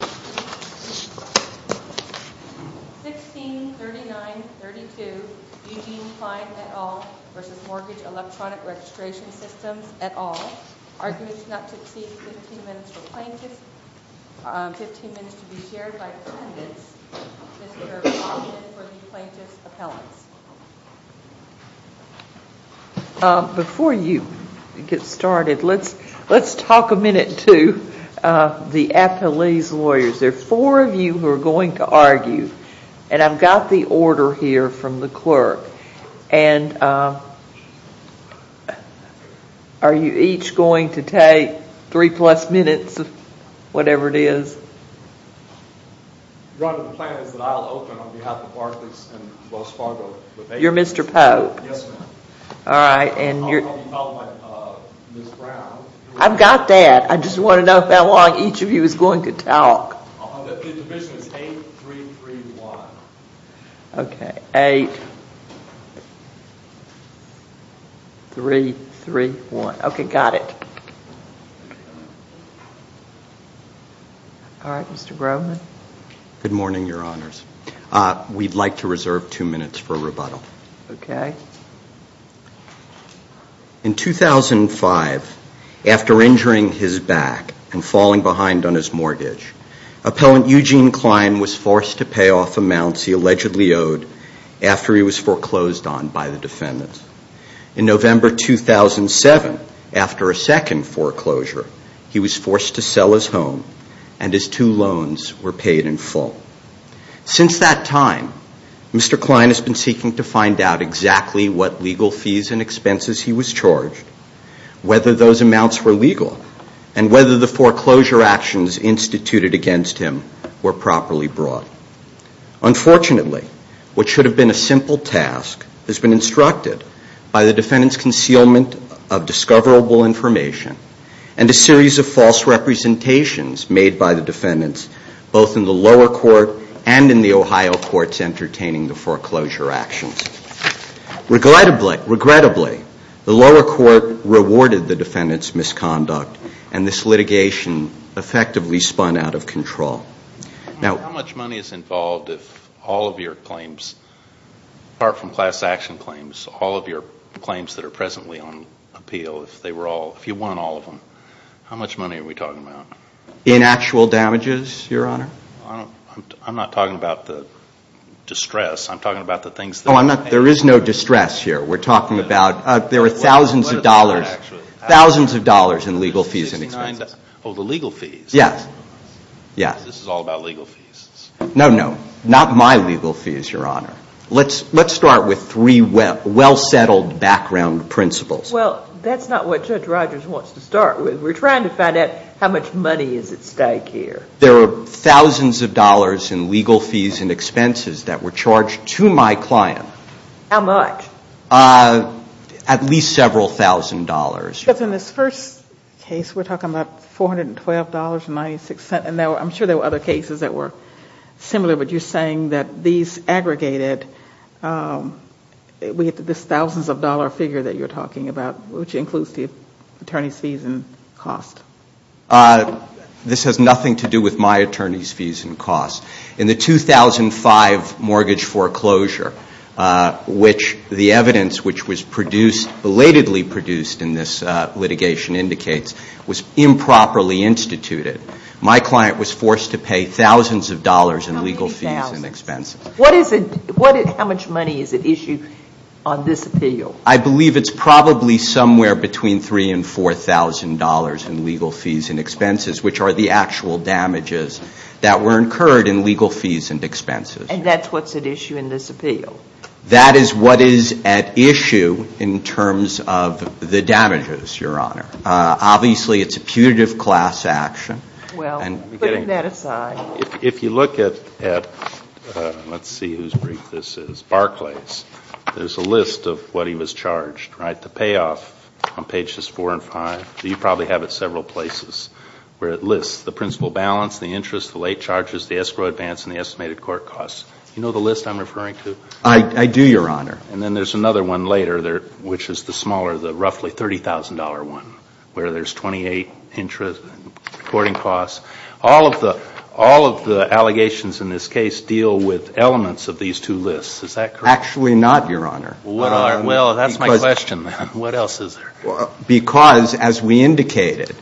1639.32 Eugene Kline et al. v. Mortgage Electronic Registration Systems et al. Arguments not to exceed 15 minutes for plaintiffs, 15 minutes to be shared by defendants, Mr. Kline for the plaintiff's appellants. Before you get started, let's talk a minute to the appellee's lawyers. There are four of you who are going to argue, and I've got the order here from the clerk. And are you each going to take three plus minutes, whatever it is? One of the plans is that I'll open on behalf of Barclays and Wells Fargo. You're Mr. Pope? Yes, ma'am. All right, and you're... I'll help you out with Ms. Brown. I've got that. I just want to know how long each of you is going to talk. The division is 8-3-3-1. Okay, 8-3-3-1. Okay, got it. Good morning, Your Honors. We'd like to reserve two minutes for rebuttal. Okay. In 2005, after injuring his back and falling behind on his mortgage, Appellant Eugene Kline was forced to pay off amounts he allegedly owed after he was foreclosed on by the defendants. In November 2007, after a second foreclosure, he was forced to sell his home and his two loans were paid in full. Since that time, Mr. Kline has been seeking to find out exactly what legal fees and expenses he was charged, whether those amounts were legal, and whether the foreclosure actions instituted against him were properly brought. Unfortunately, what should have been a simple task has been instructed by the defendants' concealment of discoverable information and a series of false representations made by the defendants, both in the lower court and in the Ohio courts, entertaining the foreclosure actions. Regrettably, the lower court rewarded the defendants' misconduct and this litigation effectively spun out of control. How much money is involved if all of your claims, apart from class action claims, all of your claims that are presently on appeal, if you won all of them, how much money are we talking about? In actual damages, Your Honor? I'm not talking about the distress. I'm talking about the things that were paid. There is no distress here. We're talking about there were thousands of dollars, thousands of dollars in legal fees and expenses. Oh, the legal fees? Yes. This is all about legal fees. No, no. Not my legal fees, Your Honor. Let's start with three well-settled background principles. Well, that's not what Judge Rogers wants to start with. We're trying to find out how much money is at stake here. There were thousands of dollars in legal fees and expenses that were charged to my client. How much? At least several thousand dollars. But in this first case, we're talking about $412.96. And I'm sure there were other cases that were similar, but you're saying that these aggregated, this thousands of dollar figure that you're talking about, which includes the attorney's fees and costs. This has nothing to do with my attorney's fees and costs. In the 2005 mortgage foreclosure, which the evidence, which was belatedly produced in this litigation, indicates was improperly instituted. My client was forced to pay thousands of dollars in legal fees and expenses. How many thousands? How much money is at issue on this appeal? I believe it's probably somewhere between $3,000 and $4,000 in legal fees and expenses, which are the actual damages that were incurred in legal fees and expenses. And that's what's at issue in this appeal? That is what is at issue in terms of the damages, Your Honor. Obviously, it's a putative class action. Well, putting that aside. If you look at, let's see whose brief this is, Barclays, there's a list of what he was charged, right? The payoff on pages 4 and 5, you probably have it several places, where it lists the principal balance, the interest, the late charges, the escrow advance, and the estimated court costs. You know the list I'm referring to? I do, Your Honor. And then there's another one later, which is the smaller, the roughly $30,000 one, where there's 28 interest and reporting costs. All of the allegations in this case deal with elements of these two lists. Is that correct? Actually not, Your Honor. Well, that's my question then. What else is there? Because, as we indicated,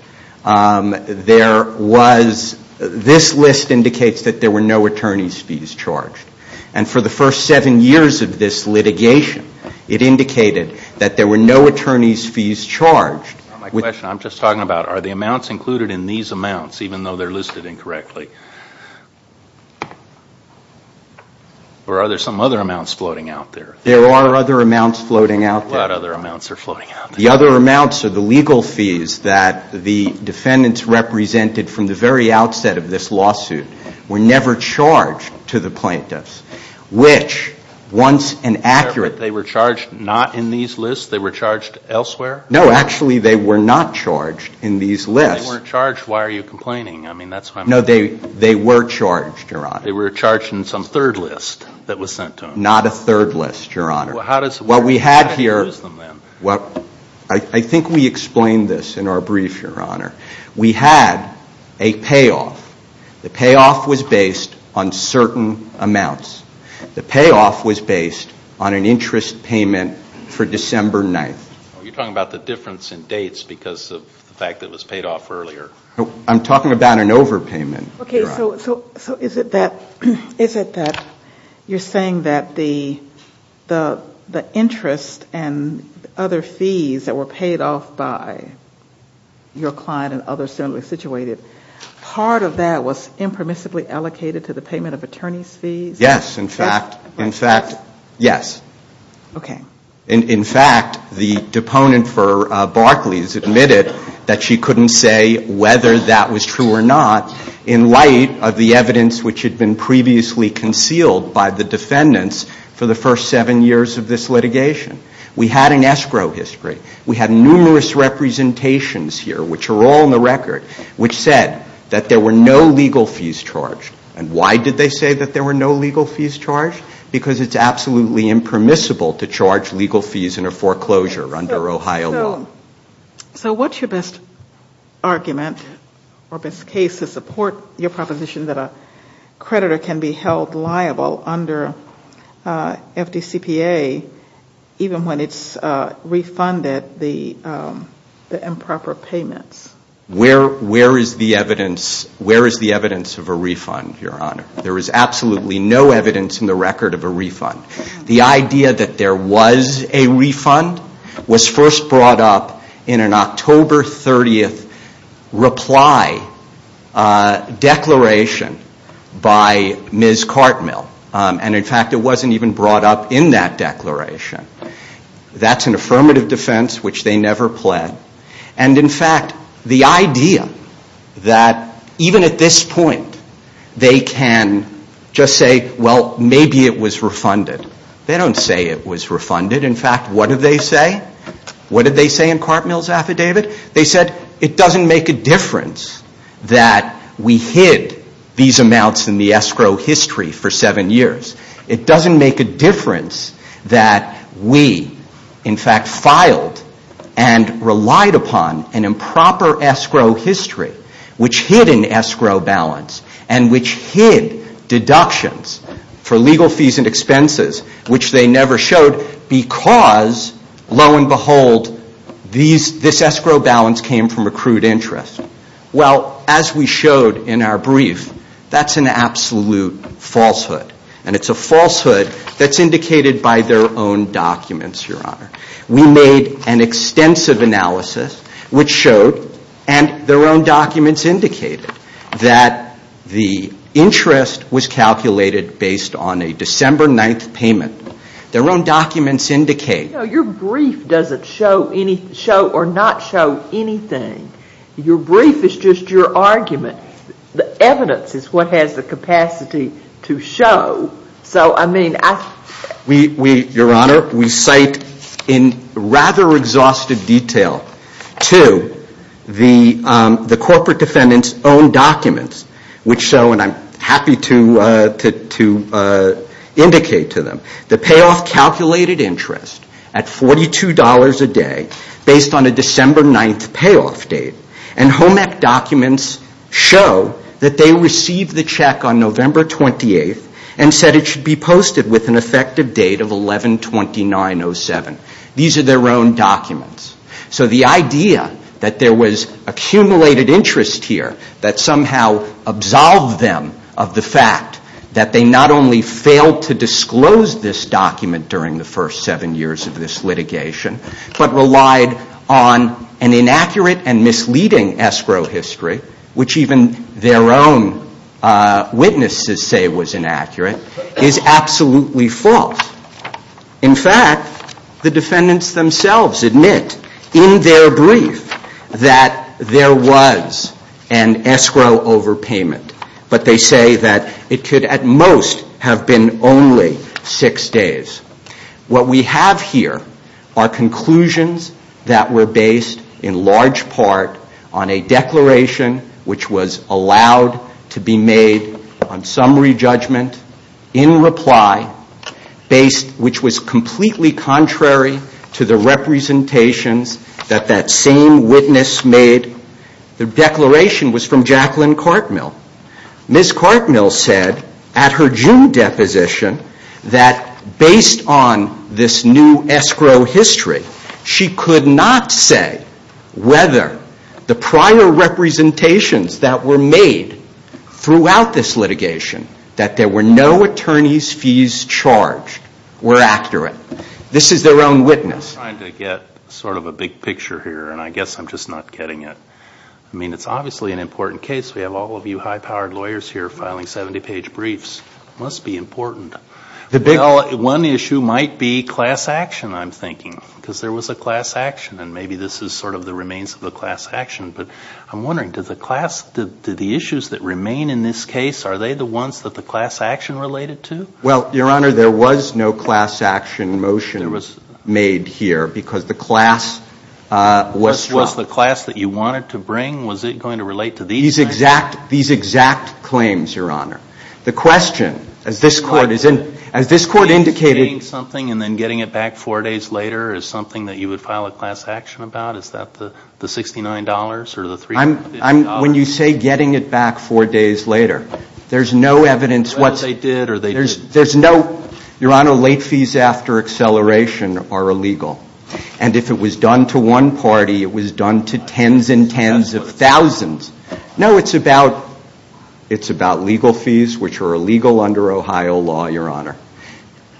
there was, this list indicates that there were no attorney's fees charged. And for the first seven years of this litigation, it indicated that there were no attorney's fees charged. My question, I'm just talking about are the amounts included in these amounts, even though they're listed incorrectly? Or are there some other amounts floating out there? There are other amounts floating out there. What other amounts are floating out there? The other amounts are the legal fees that the defendants represented from the very outset of this lawsuit were never charged to the plaintiffs, which, once an accurate They were charged not in these lists? They were charged elsewhere? No, actually they were not charged in these lists. If they weren't charged, why are you complaining? I mean, that's why I'm asking. No, they were charged, Your Honor. They were charged in some third list that was sent to them? Not a third list, Your Honor. Well, how does it work? I think we explained this in our brief, Your Honor. We had a payoff. The payoff was based on certain amounts. The payoff was based on an interest payment for December 9th. You're talking about the difference in dates because of the fact that it was paid off earlier. I'm talking about an overpayment, Your Honor. Okay, so is it that you're saying that the interest and other fees that were paid off by your client and others similarly situated, part of that was impermissibly allocated to the payment of attorney's fees? Yes, in fact. Yes? Yes. Okay. In fact, the deponent for Barclays admitted that she couldn't say whether that was true or not in light of the evidence which had been previously concealed by the defendants for the first seven years of this litigation. We had an escrow history. We had numerous representations here, which are all in the record, which said that there were no legal fees charged. And why did they say that there were no legal fees charged? Because it's absolutely impermissible to charge legal fees in a foreclosure under Ohio law. So what's your best argument or best case to support your proposition that a creditor can be held liable under FDCPA even when it's refunded the improper payments? Where is the evidence of a refund, Your Honor? There is absolutely no evidence in the record of a refund. The idea that there was a refund was first brought up in an October 30th reply declaration by Ms. Cartmill. And in fact, it wasn't even brought up in that declaration. That's an affirmative defense which they never pled. And in fact, the idea that even at this point they can just say, well, maybe it was refunded. They don't say it was refunded. In fact, what did they say? What did they say in Cartmill's affidavit? They said it doesn't make a difference that we hid these amounts in the escrow history for seven years. It doesn't make a difference that we, in fact, filed and relied upon an improper escrow history which hid an escrow balance and which hid deductions for legal fees and expenses which they never showed because, lo and behold, this escrow balance came from a crude interest. Well, as we showed in our brief, that's an absolute falsehood. And it's a falsehood that's indicated by their own documents, Your Honor. We made an extensive analysis which showed and their own documents indicated that the interest was calculated based on a December 9th payment. Their own documents indicate. Your brief doesn't show or not show anything. Your brief is just your argument. The evidence is what has the capacity to show. So, I mean, I... Your Honor, we cite in rather exhaustive detail to the corporate defendant's own documents which show, and I'm happy to indicate to them, the payoff calculated interest at $42 a day based on a December 9th payoff date. And HOMEC documents show that they received the check on November 28th and said it should be posted with an effective date of 11-29-07. These are their own documents. So the idea that there was accumulated interest here that somehow absolved them of the fact that they not only failed to disclose this document during the first seven years of this litigation but relied on an inaccurate and misleading escrow history, which even their own witnesses say was inaccurate, is absolutely false. In fact, the defendants themselves admit in their brief that there was an escrow overpayment. But they say that it could at most have been only six days. What we have here are conclusions that were based in large part on a declaration which was allowed to be made on summary judgment in reply, which was completely contrary to the representations that that same witness made. The declaration was from Jacqueline Cartmill. Ms. Cartmill said at her June deposition that based on this new escrow history, she could not say whether the prior representations that were made throughout this litigation, that there were no attorney's fees charged, were accurate. This is their own witness. I'm trying to get sort of a big picture here, and I guess I'm just not getting it. I mean, it's obviously an important case. We have all of you high-powered lawyers here filing 70-page briefs. It must be important. One issue might be class action, I'm thinking, because there was a class action, and maybe this is sort of the remains of a class action. But I'm wondering, do the issues that remain in this case, are they the ones that the class action related to? Well, Your Honor, there was no class action motion made here because the class was struck. So was the class that you wanted to bring, was it going to relate to these things? These exact claims, Your Honor. The question, as this Court indicated ---- Is getting something and then getting it back four days later is something that you would file a class action about? Is that the $69 or the $350? When you say getting it back four days later, there's no evidence what's ---- Whether they did or they didn't. There's no ---- Your Honor, late fees after acceleration are illegal. And if it was done to one party, it was done to tens and tens of thousands. No, it's about legal fees, which are illegal under Ohio law, Your Honor.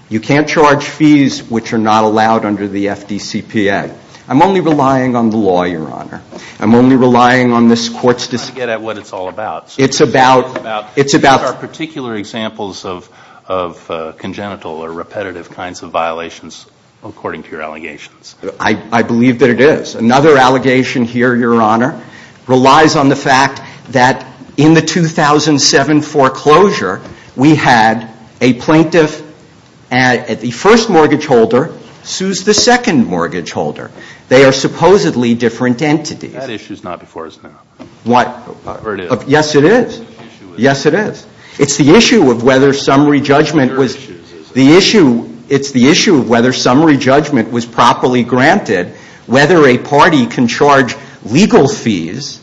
You can't charge fees which are not allowed under the FDCPA. I'm only relying on the law, Your Honor. I'm only relying on this Court's decision. I get at what it's all about. It's about ---- It's about particular examples of congenital or repetitive kinds of violations, according to your allegations. I believe that it is. Another allegation here, Your Honor, relies on the fact that in the 2007 foreclosure, we had a plaintiff at the first mortgage holder sues the second mortgage holder. They are supposedly different entities. That issue is not before us now. What? Or it is. Yes, it is. Yes, it is. It's your issue, isn't it? The issue, it's the issue of whether summary judgment was properly granted, whether a party can charge legal fees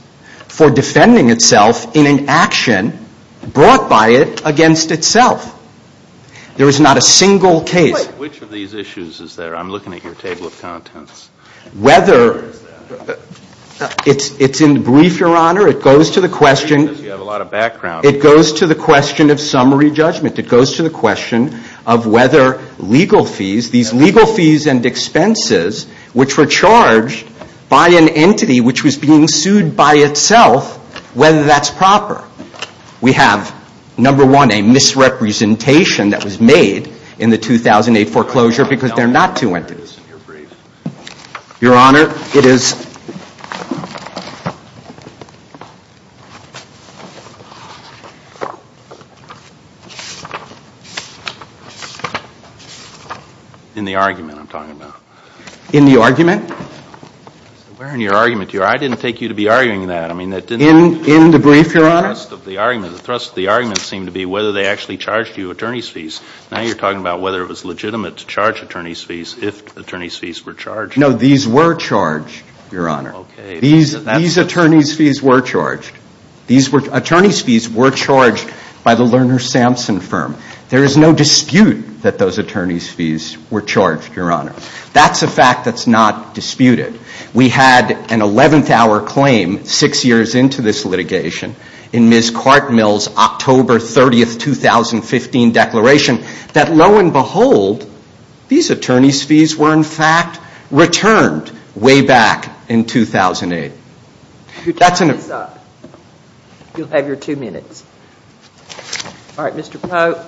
for defending itself in an action brought by it against itself. There is not a single case. Which of these issues is there? I'm looking at your table of contents. Whether, it's in the brief, Your Honor. It goes to the question. You have a lot of background. It goes to the question of summary judgment. It goes to the question of whether legal fees, these legal fees and expenses, which were charged by an entity which was being sued by itself, whether that's proper. We have, number one, a misrepresentation that was made in the 2008 foreclosure because they're not two entities. Your Honor, it is. In the argument I'm talking about. In the argument? Where in your argument? I didn't take you to be arguing that. In the brief, Your Honor? The thrust of the argument seemed to be whether they actually charged you attorney's fees. Now you're talking about whether it was legitimate to charge attorney's fees if attorney's fees were charged. No, these were charged, Your Honor. Okay. These attorney's fees were charged. Attorney's fees were charged by the Lerner Sampson firm. There is no dispute that those attorney's fees were charged, Your Honor. That's a fact that's not disputed. We had an 11th hour claim six years into this litigation in Ms. Quartmill's October 30th, 2015 declaration that lo and behold, these attorney's fees were in fact returned way back in 2008. That's enough. You'll have your two minutes. All right. Mr. Pope.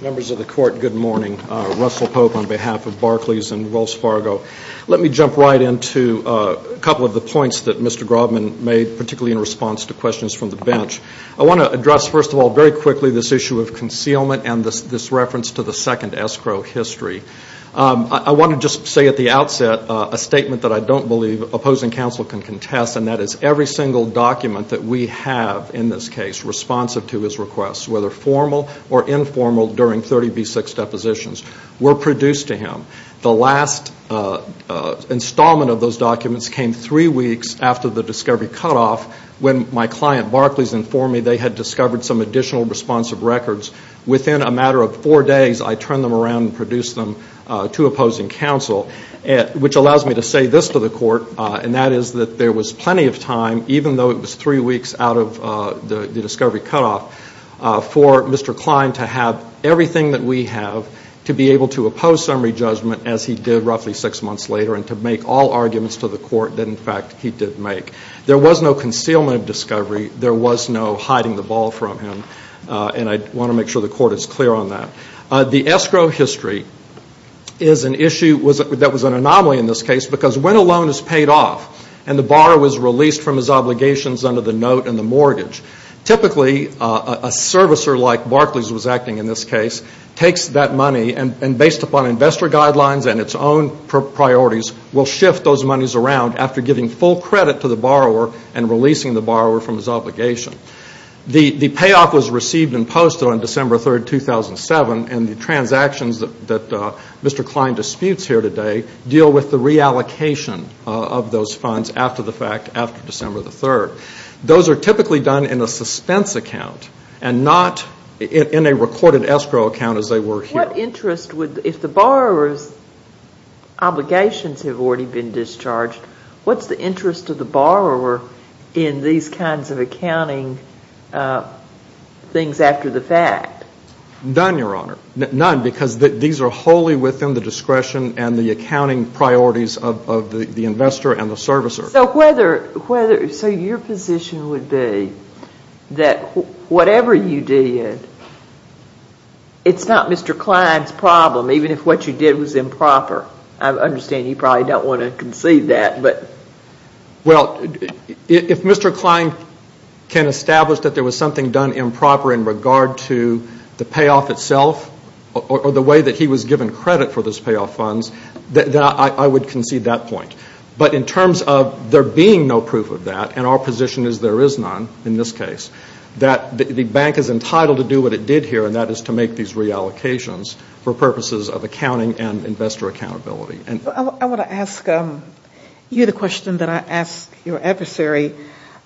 Members of the Court, good morning. Russell Pope on behalf of Barclays and Wells Fargo. Let me jump right into a couple of the points that Mr. Grobman made, particularly in response to questions from the bench. I want to address, first of all, very quickly this issue of concealment and this reference to the second escrow history. I want to just say at the outset a statement that I don't believe opposing counsel can contest, and that is every single document that we have in this case responsive to his requests, whether formal or informal, during 30B6 depositions were produced to him. The last installment of those documents came three weeks after the discovery cutoff when my client Barclays informed me they had discovered some additional responsive records. Within a matter of four days, I turned them around and produced them to opposing counsel, which allows me to say this to the Court, and that is that there was plenty of time, even though it was three weeks out of the discovery cutoff, for Mr. Klein to have everything that we have to be able to oppose summary judgment, as he did roughly six months later, and to make all arguments to the Court that, in fact, he did make. There was no concealment of discovery. There was no hiding the ball from him. And I want to make sure the Court is clear on that. The escrow history is an issue that was an anomaly in this case because when a loan is paid off and the borrower was released from his obligations under the note and the mortgage, typically a servicer like Barclays was acting in this case takes that money and based upon investor guidelines and its own priorities, will shift those monies around after giving full credit to the borrower and releasing the borrower from his obligation. The payoff was received in post on December 3, 2007, and the transactions that Mr. Klein disputes here today deal with the reallocation of those funds after the fact after December 3. Those are typically done in a suspense account and not in a recorded escrow account as they were here. What interest would, if the borrower's obligations have already been discharged, what's the interest of the borrower in these kinds of accounting things after the fact? None, Your Honor. None because these are wholly within the discretion and the accounting priorities of the investor and the servicer. So your position would be that whatever you did, it's not Mr. Klein's problem, even if what you did was improper. I understand you probably don't want to concede that. Well, if Mr. Klein can establish that there was something done improper in regard to the payoff itself or the way that he was given credit for those payoff funds, then I would concede that point. But in terms of there being no proof of that, and our position is there is none in this case, that the bank is entitled to do what it did here and that is to make these reallocations for purposes of accounting and investor accountability. I want to ask you the question that I asked your adversary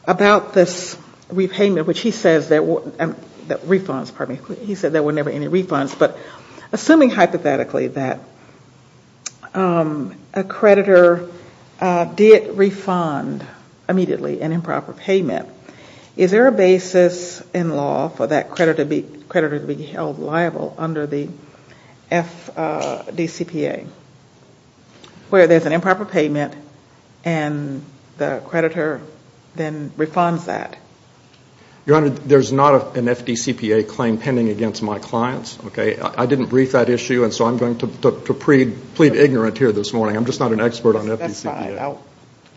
about this repayment, which he says that refunds, pardon me, he said there were never any refunds. But assuming hypothetically that a creditor did refund immediately an improper payment, is there a basis in law for that creditor to be held liable under the FDCPA, where there's an improper payment and the creditor then refunds that? Your Honor, there's not an FDCPA claim pending against my clients. I didn't brief that issue, and so I'm going to plead ignorant here this morning. I'm just not an expert on FDCPA.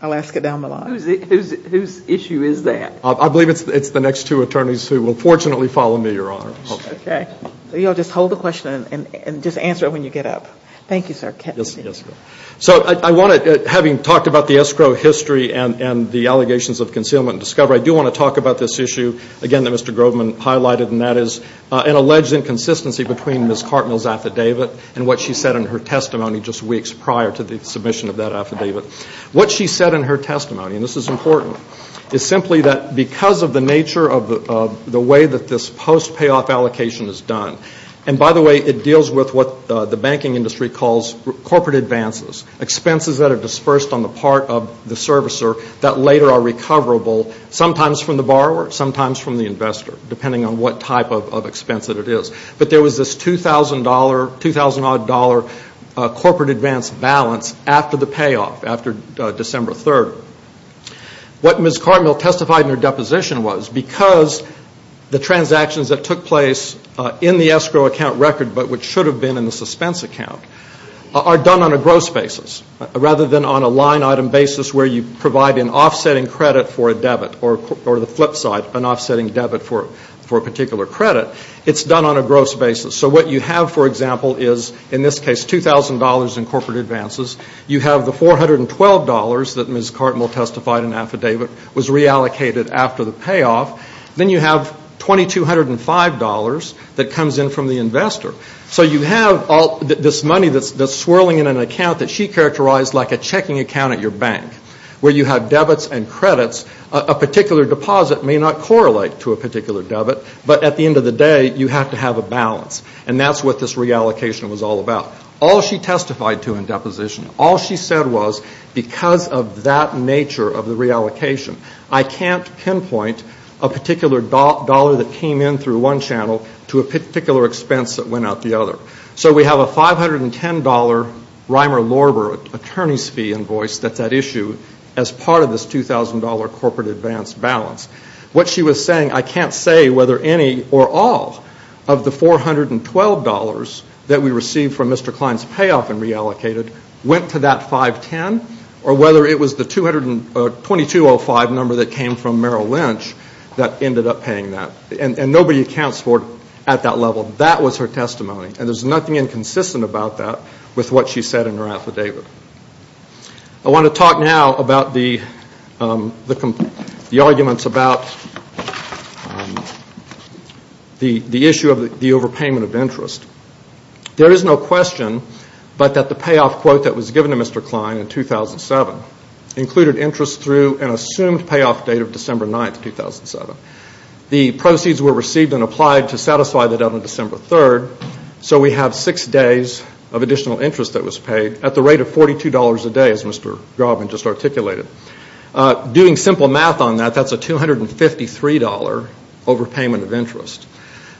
I'll ask it down the line. Whose issue is that? I believe it's the next two attorneys who will fortunately follow me, Your Honor. Okay. So you'll just hold the question and just answer it when you get up. Thank you, sir. Yes, ma'am. So I want to, having talked about the escrow history and the allegations of concealment and discovery, I do want to talk about this issue, again, that Mr. Grobman highlighted, and that is an alleged inconsistency between Ms. Cartmell's affidavit and what she said in her testimony just weeks prior to the submission of that affidavit. What she said in her testimony, and this is important, is simply that because of the nature of the way that this post-payoff allocation is done, and by the way, it deals with what the banking industry calls corporate advances, expenses that are dispersed on the part of the servicer that later are recoverable, sometimes from the borrower, sometimes from the investor, depending on what type of expense it is. But there was this $2,000, $2,000-odd corporate advance balance after the payoff, after December 3rd. What Ms. Cartmell testified in her deposition was because the transactions that took place in the escrow account record, but which should have been in the suspense account, are done on a gross basis, rather than on a line-item basis where you provide an offsetting credit for a debit, or the flip side, an offsetting debit for a particular credit. It's done on a gross basis. So what you have, for example, is in this case $2,000 in corporate advances. You have the $412 that Ms. Cartmell testified in the affidavit was reallocated after the payoff. Then you have $2,205 that comes in from the investor. So you have this money that's swirling in an account that she characterized like a checking account at your bank, where you have debits and credits. A particular deposit may not correlate to a particular debit, but at the end of the day, you have to have a balance. And that's what this reallocation was all about. All she testified to in deposition, all she said was because of that nature of the reallocation, I can't pinpoint a particular dollar that came in through one channel to a particular expense that went out the other. So we have a $510 Reimer-Lorber attorney's fee invoice that's at issue as part of this $2,000 corporate advance balance. What she was saying, I can't say whether any or all of the $412 that we received from Mr. Klein's payoff and reallocated went to that 510, or whether it was the $2,205 number that came from Merrill Lynch that ended up paying that. And nobody accounts for it at that level. That was her testimony, and there's nothing inconsistent about that with what she said in her affidavit. I want to talk now about the arguments about the issue of the overpayment of interest. There is no question but that the payoff quote that was given to Mr. Klein in 2007 included interest through an assumed payoff date of December 9, 2007. The proceeds were received and applied to satisfy that on December 3rd, so we have six days of additional interest that was paid at the rate of $42 a day, as Mr. Grobman just articulated. Doing simple math on that, that's a $253 overpayment of interest.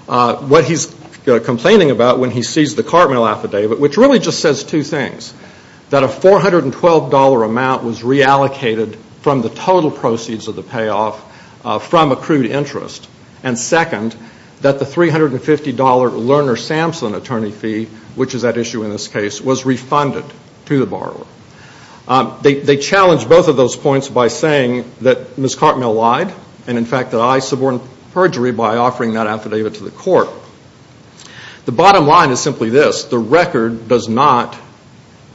What he's complaining about when he sees the Cartmill affidavit, which really just says two things, that a $412 amount was reallocated from the total proceeds of the payoff from accrued interest, and second, that the $350 Lerner-Sampson attorney fee, which is at issue in this case, was refunded to the borrower. They challenged both of those points by saying that Ms. Cartmill lied, and in fact that I suborned perjury by offering that affidavit to the court. The bottom line is simply this. The record does not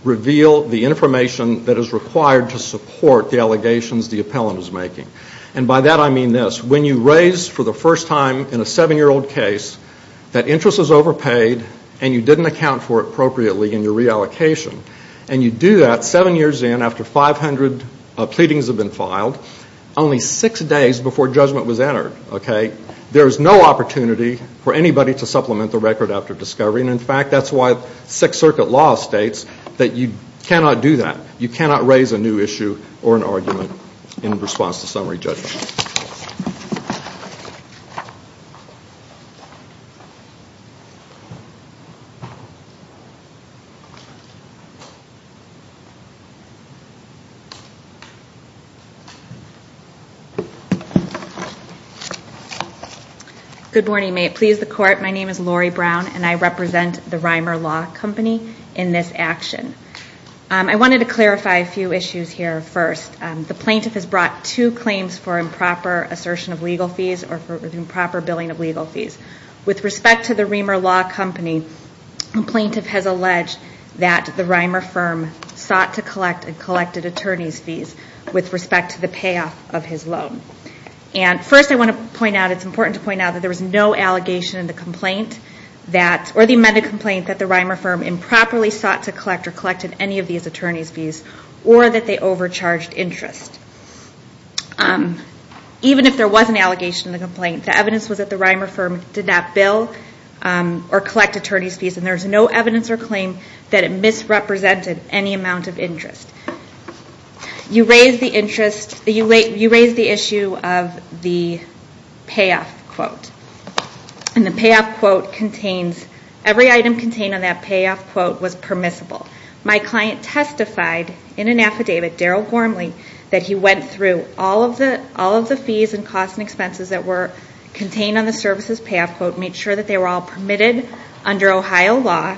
reveal the information that is required to support the allegations the appellant is making. And by that I mean this. When you raise for the first time in a seven-year-old case that interest is overpaid and you didn't account for it appropriately in your reallocation, and you do that seven years in after 500 pleadings have been filed, only six days before judgment was entered, okay, there is no opportunity for anybody to supplement the record after discovery. And in fact, that's why Sixth Circuit law states that you cannot do that. You cannot raise a new issue or an argument in response to summary judgment. Good morning. May it please the court, my name is Lori Brown, and I represent the Reimer Law Company in this action. I wanted to clarify a few issues here first. The plaintiff has brought two claims for improper assertion of legal fees or for improper billing of legal fees. With respect to the Reimer Law Company, the plaintiff has alleged that the Reimer firm sought to collect and collected attorney's fees with respect to the payoff of his loan. And first I want to point out, it's important to point out, that there was no allegation in the complaint that, or the amended complaint that the Reimer firm improperly sought to collect or collected any of these attorney's fees or that they overcharged interest. Even if there was an allegation in the complaint, the evidence was that the Reimer firm did not bill or collect attorney's fees, and there's no evidence or claim that it misrepresented any amount of interest. You raised the issue of the payoff quote. And the payoff quote contains, every item contained on that payoff quote was permissible. My client testified in an affidavit, Daryl Gormley, that he went through all of the fees and costs and expenses that were contained on the services payoff quote, made sure that they were all permitted under Ohio law,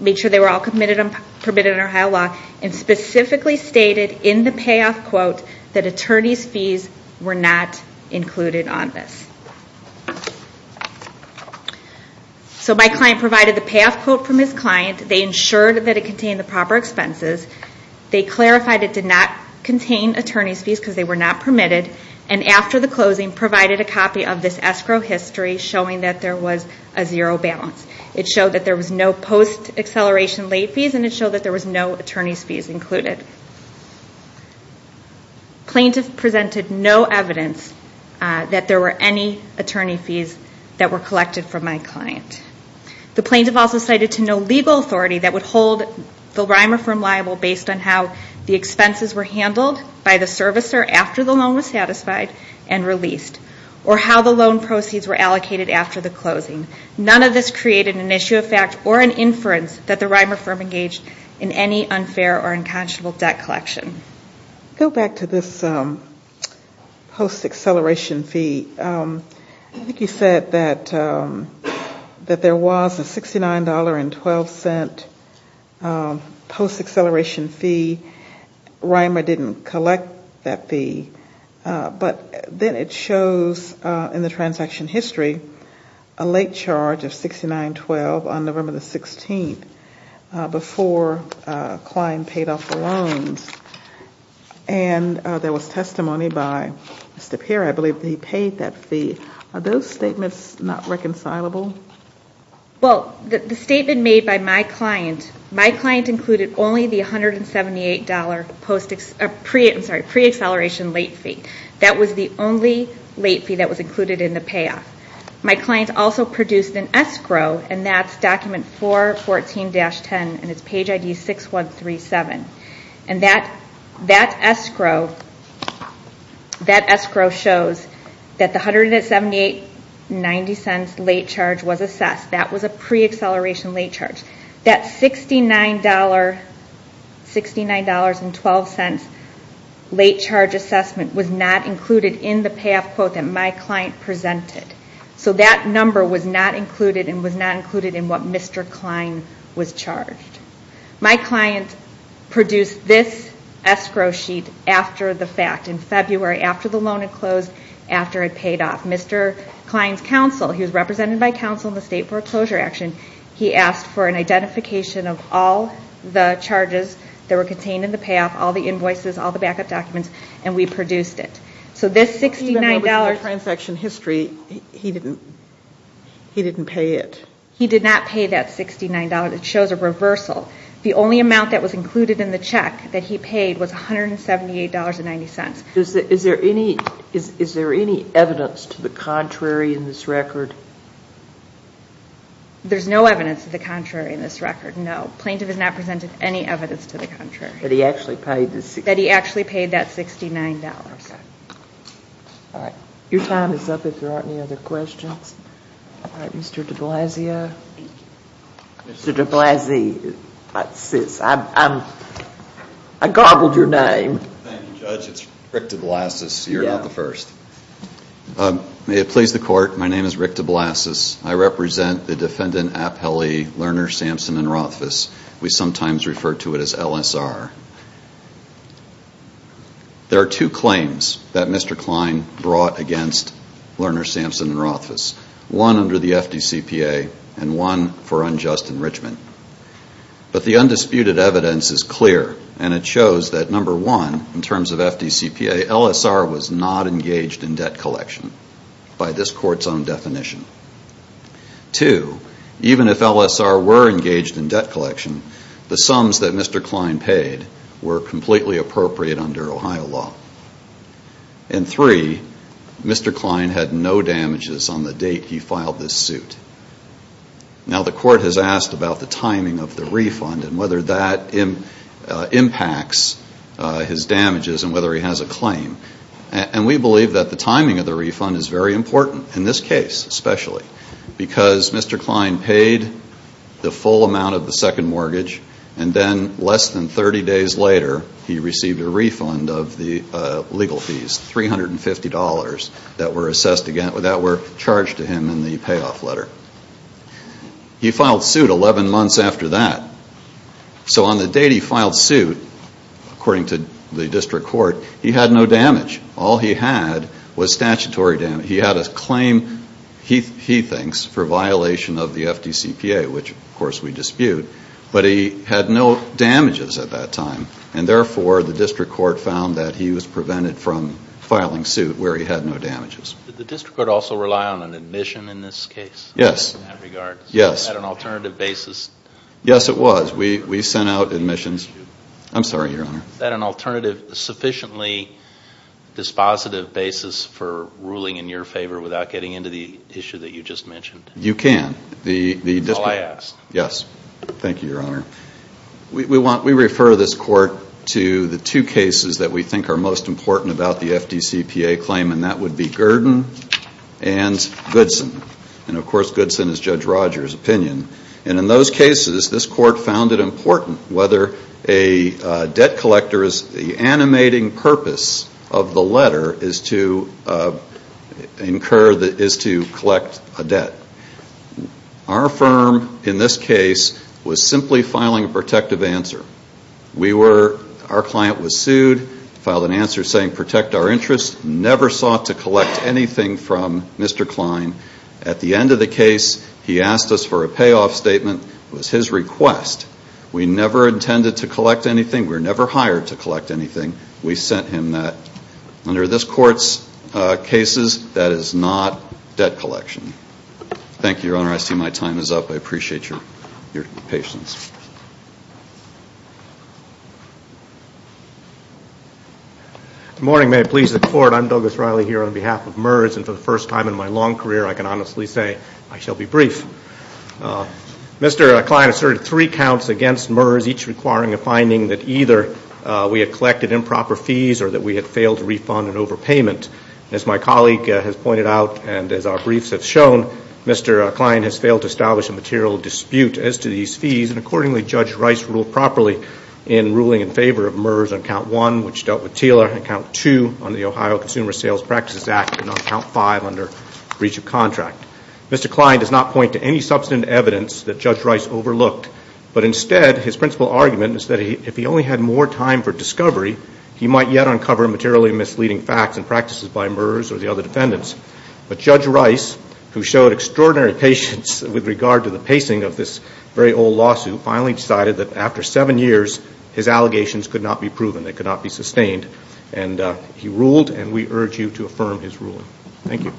made sure they were all permitted under Ohio law, and specifically stated in the payoff quote that attorney's fees were not included on this. So my client provided the payoff quote from his client, they ensured that it contained the proper expenses, they clarified it did not contain attorney's fees because they were not permitted, and after the closing provided a copy of this escrow history showing that there was a zero balance. It showed that there was no post-acceleration late fees, and it showed that there was no attorney's fees included. Plaintiff presented no evidence that there were any attorney fees that were collected from my client. The plaintiff also cited to no legal authority that would hold the Reimer firm liable based on how the expenses were handled by the servicer after the loan was satisfied and released, or how the loan proceeds were allocated after the closing. None of this created an issue of fact or an inference that the Reimer firm engaged in any unfair or unconscionable debt collection. Go back to this post-acceleration fee. I think you said that there was a $69.12 post-acceleration fee. Reimer didn't collect that fee. But then it shows in the transaction history a late charge of $69.12 on November 16th, and there was testimony by Mr. Pierre, I believe, that he paid that fee. Are those statements not reconcilable? Well, the statement made by my client, my client included only the $178 pre-acceleration late fee. That was the only late fee that was included in the payoff. My client also produced an escrow, and that's document 414-10, and it's page ID 6137. And that escrow shows that the $178.90 late charge was assessed. That was a pre-acceleration late charge. That $69.12 late charge assessment was not included in the payoff quote that my client presented. So that number was not included and was not included in what Mr. Klein was charged. My client produced this escrow sheet after the fact, in February, after the loan had closed, after it paid off. Mr. Klein's counsel, he was represented by counsel in the state foreclosure action, he asked for an identification of all the charges that were contained in the payoff, all the invoices, all the backup documents, and we produced it. So this $69... Even though it was in the transaction history, he didn't pay it. He did not pay that $69... It shows a reversal. The only amount that was included in the check that he paid was $178.90. Is there any evidence to the contrary in this record? There's no evidence to the contrary in this record, no. The plaintiff has not presented any evidence to the contrary. That he actually paid the $69... That he actually paid that $69... All right. Your time is up if there aren't any other questions. All right, Mr. de Blasio. Mr. de Blasio. I gobbled your name. Thank you, Judge. It's Rick de Blasio. You're not the first. May it please the Court, my name is Rick de Blasio. I represent the defendant, Appellee Lerner, Sampson, and Rothfuss. We sometimes refer to it as LSR. There are two claims that Mr. Klein brought against Lerner, Sampson, and Rothfuss. One under the FDCPA, and one for unjust enrichment. But the undisputed evidence is clear, and it shows that, number one, in terms of FDCPA, LSR was not engaged in debt collection by this Court's own definition. Two, even if LSR were engaged in debt collection, the sums that Mr. Klein paid were completely appropriate under Ohio law. And three, Mr. Klein had no damages on the date he filed this suit. Now, the Court has asked about the timing of the refund and whether that impacts his damages and whether he has a claim. And we believe that the timing of the refund is very important, in this case especially, because Mr. Klein paid the full amount of the second mortgage, and then less than 30 days later, he received a refund of the legal fees, $350, that were charged to him in the payoff letter. He filed suit 11 months after that. So on the date he filed suit, according to the District Court, he had no damage. All he had was statutory damage. He had a claim, he thinks, for violation of the FDCPA, which, of course, we dispute. But he had no damages at that time, and therefore the District Court found that he was prevented from filing suit where he had no damages. Did the District Court also rely on an admission in this case? Yes. In that regard? Yes. Was that an alternative basis? Yes, it was. We sent out admissions. I'm sorry, Your Honor. Was that an alternative, sufficiently dispositive basis for ruling in your favor without getting into the issue that you just mentioned? You can. That's all I ask. Yes. Thank you, Your Honor. We refer this Court to the two cases that we think are most important about the FDCPA claim, and that would be Gurdon and Goodson. And, of course, Goodson is Judge Rogers' opinion. And in those cases, this Court found it important whether a debt collector's animating purpose of the letter is to collect a debt. Our firm, in this case, was simply filing a protective answer. Our client was sued, filed an answer saying, Protect our interests, never sought to collect anything from Mr. Klein. At the end of the case, he asked us for a payoff statement. It was his request. We never intended to collect anything. We were never hired to collect anything. We sent him that. Under this Court's cases, that is not debt collection. Thank you, Your Honor. I see my time is up. I appreciate your patience. Good morning. May it please the Court. I'm Douglas Riley here on behalf of MERS. And for the first time in my long career, I can honestly say I shall be brief. Mr. Klein asserted three counts against MERS, each requiring a finding that either we had collected improper fees or that we had failed to refund an overpayment. As my colleague has pointed out and as our briefs have shown, Mr. Klein has failed to establish a material dispute as to these fees. And accordingly, Judge Rice ruled properly in ruling in favor of MERS on Count 1, which dealt with TILA, and Count 2 on the Ohio Consumer Sales Practices Act, and on Count 5 under breach of contract. Mr. Klein does not point to any substantive evidence that Judge Rice overlooked. But instead, his principal argument is that if he only had more time for discovery, he might yet uncover materially misleading facts and practices by MERS or the other defendants. But Judge Rice, who showed extraordinary patience with regard to the pacing of this very old lawsuit, finally decided that after seven years, his allegations could not be proven. They could not be sustained. And he ruled, and we urge you to affirm his ruling. Thank you.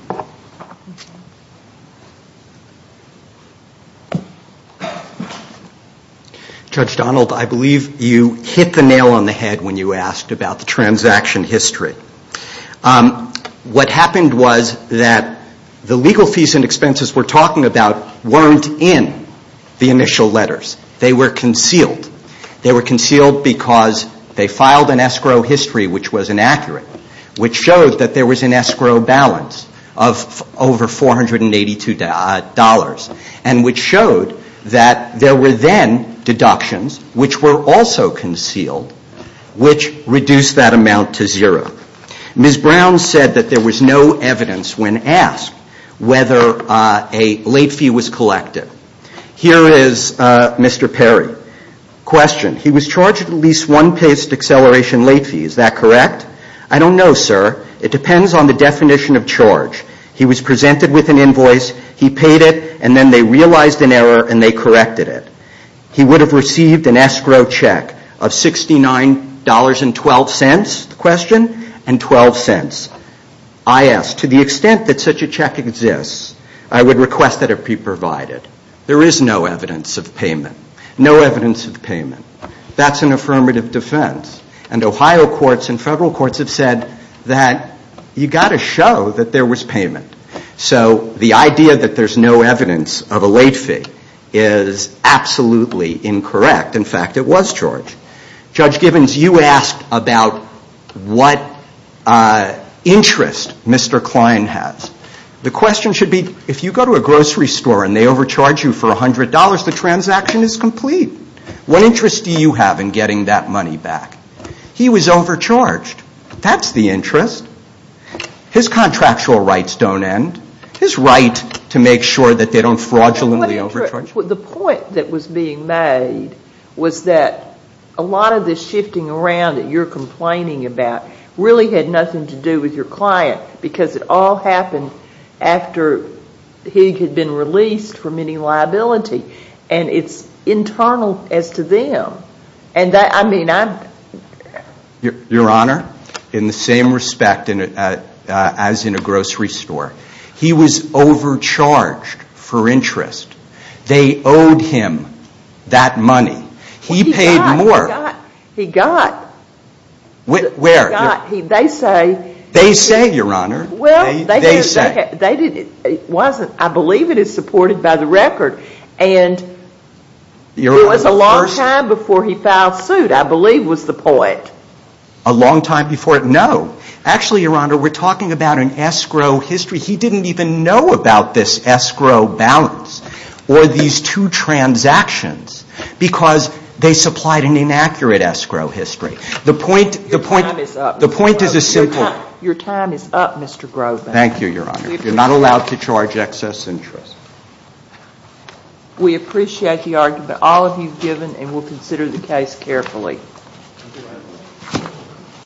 Judge Donald, I believe you hit the nail on the head when you asked about the transaction history. What happened was that the legal fees and expenses we're talking about weren't in the initial letters. They were concealed. They were concealed because they filed an escrow history, which was inaccurate, which showed that there was an escrow balance of over $482, and which showed that there were then deductions, which were also concealed, which reduced that amount to zero. Ms. Brown said that there was no evidence when asked whether a late fee was collected. Here is Mr. Perry. Question. He was charged at least one paced acceleration late fee. Is that correct? I don't know, sir. It depends on the definition of charge. He was presented with an invoice. He paid it, and then they realized an error, and they corrected it. He would have received an escrow check of $69.12, the question, and 12 cents. I ask, to the extent that such a check exists, I would request that it be provided. There is no evidence of payment. No evidence of payment. That's an affirmative defense. And Ohio courts and federal courts have said that you've got to show that there was payment. So the idea that there's no evidence of a late fee is absolutely incorrect. In fact, it was charged. Judge Gibbons, you asked about what interest Mr. Klein has. The question should be, if you go to a grocery store and they overcharge you for $100, the transaction is complete. What interest do you have in getting that money back? He was overcharged. That's the interest. His contractual rights don't end. His right to make sure that they don't fraudulently overcharge you. The point that was being made was that a lot of this shifting around that you're complaining about really had nothing to do with your client, because it all happened after he had been released from any liability. And it's internal as to them. Your Honor, in the same respect as in a grocery store, he was overcharged for interest. They owed him that money. He paid more. He got. Where? They say. They say, Your Honor. I believe it is supported by the record. And it was a long time before he filed suit, I believe was the point. A long time before? No. Actually, Your Honor, we're talking about an escrow history. He didn't even know about this escrow balance or these two transactions, because they supplied an inaccurate escrow history. The point is a simple. Your time is up, Mr. Groban. Thank you, Your Honor. You're not allowed to charge excess interest. We appreciate the argument all of you have given, and we'll consider the case carefully.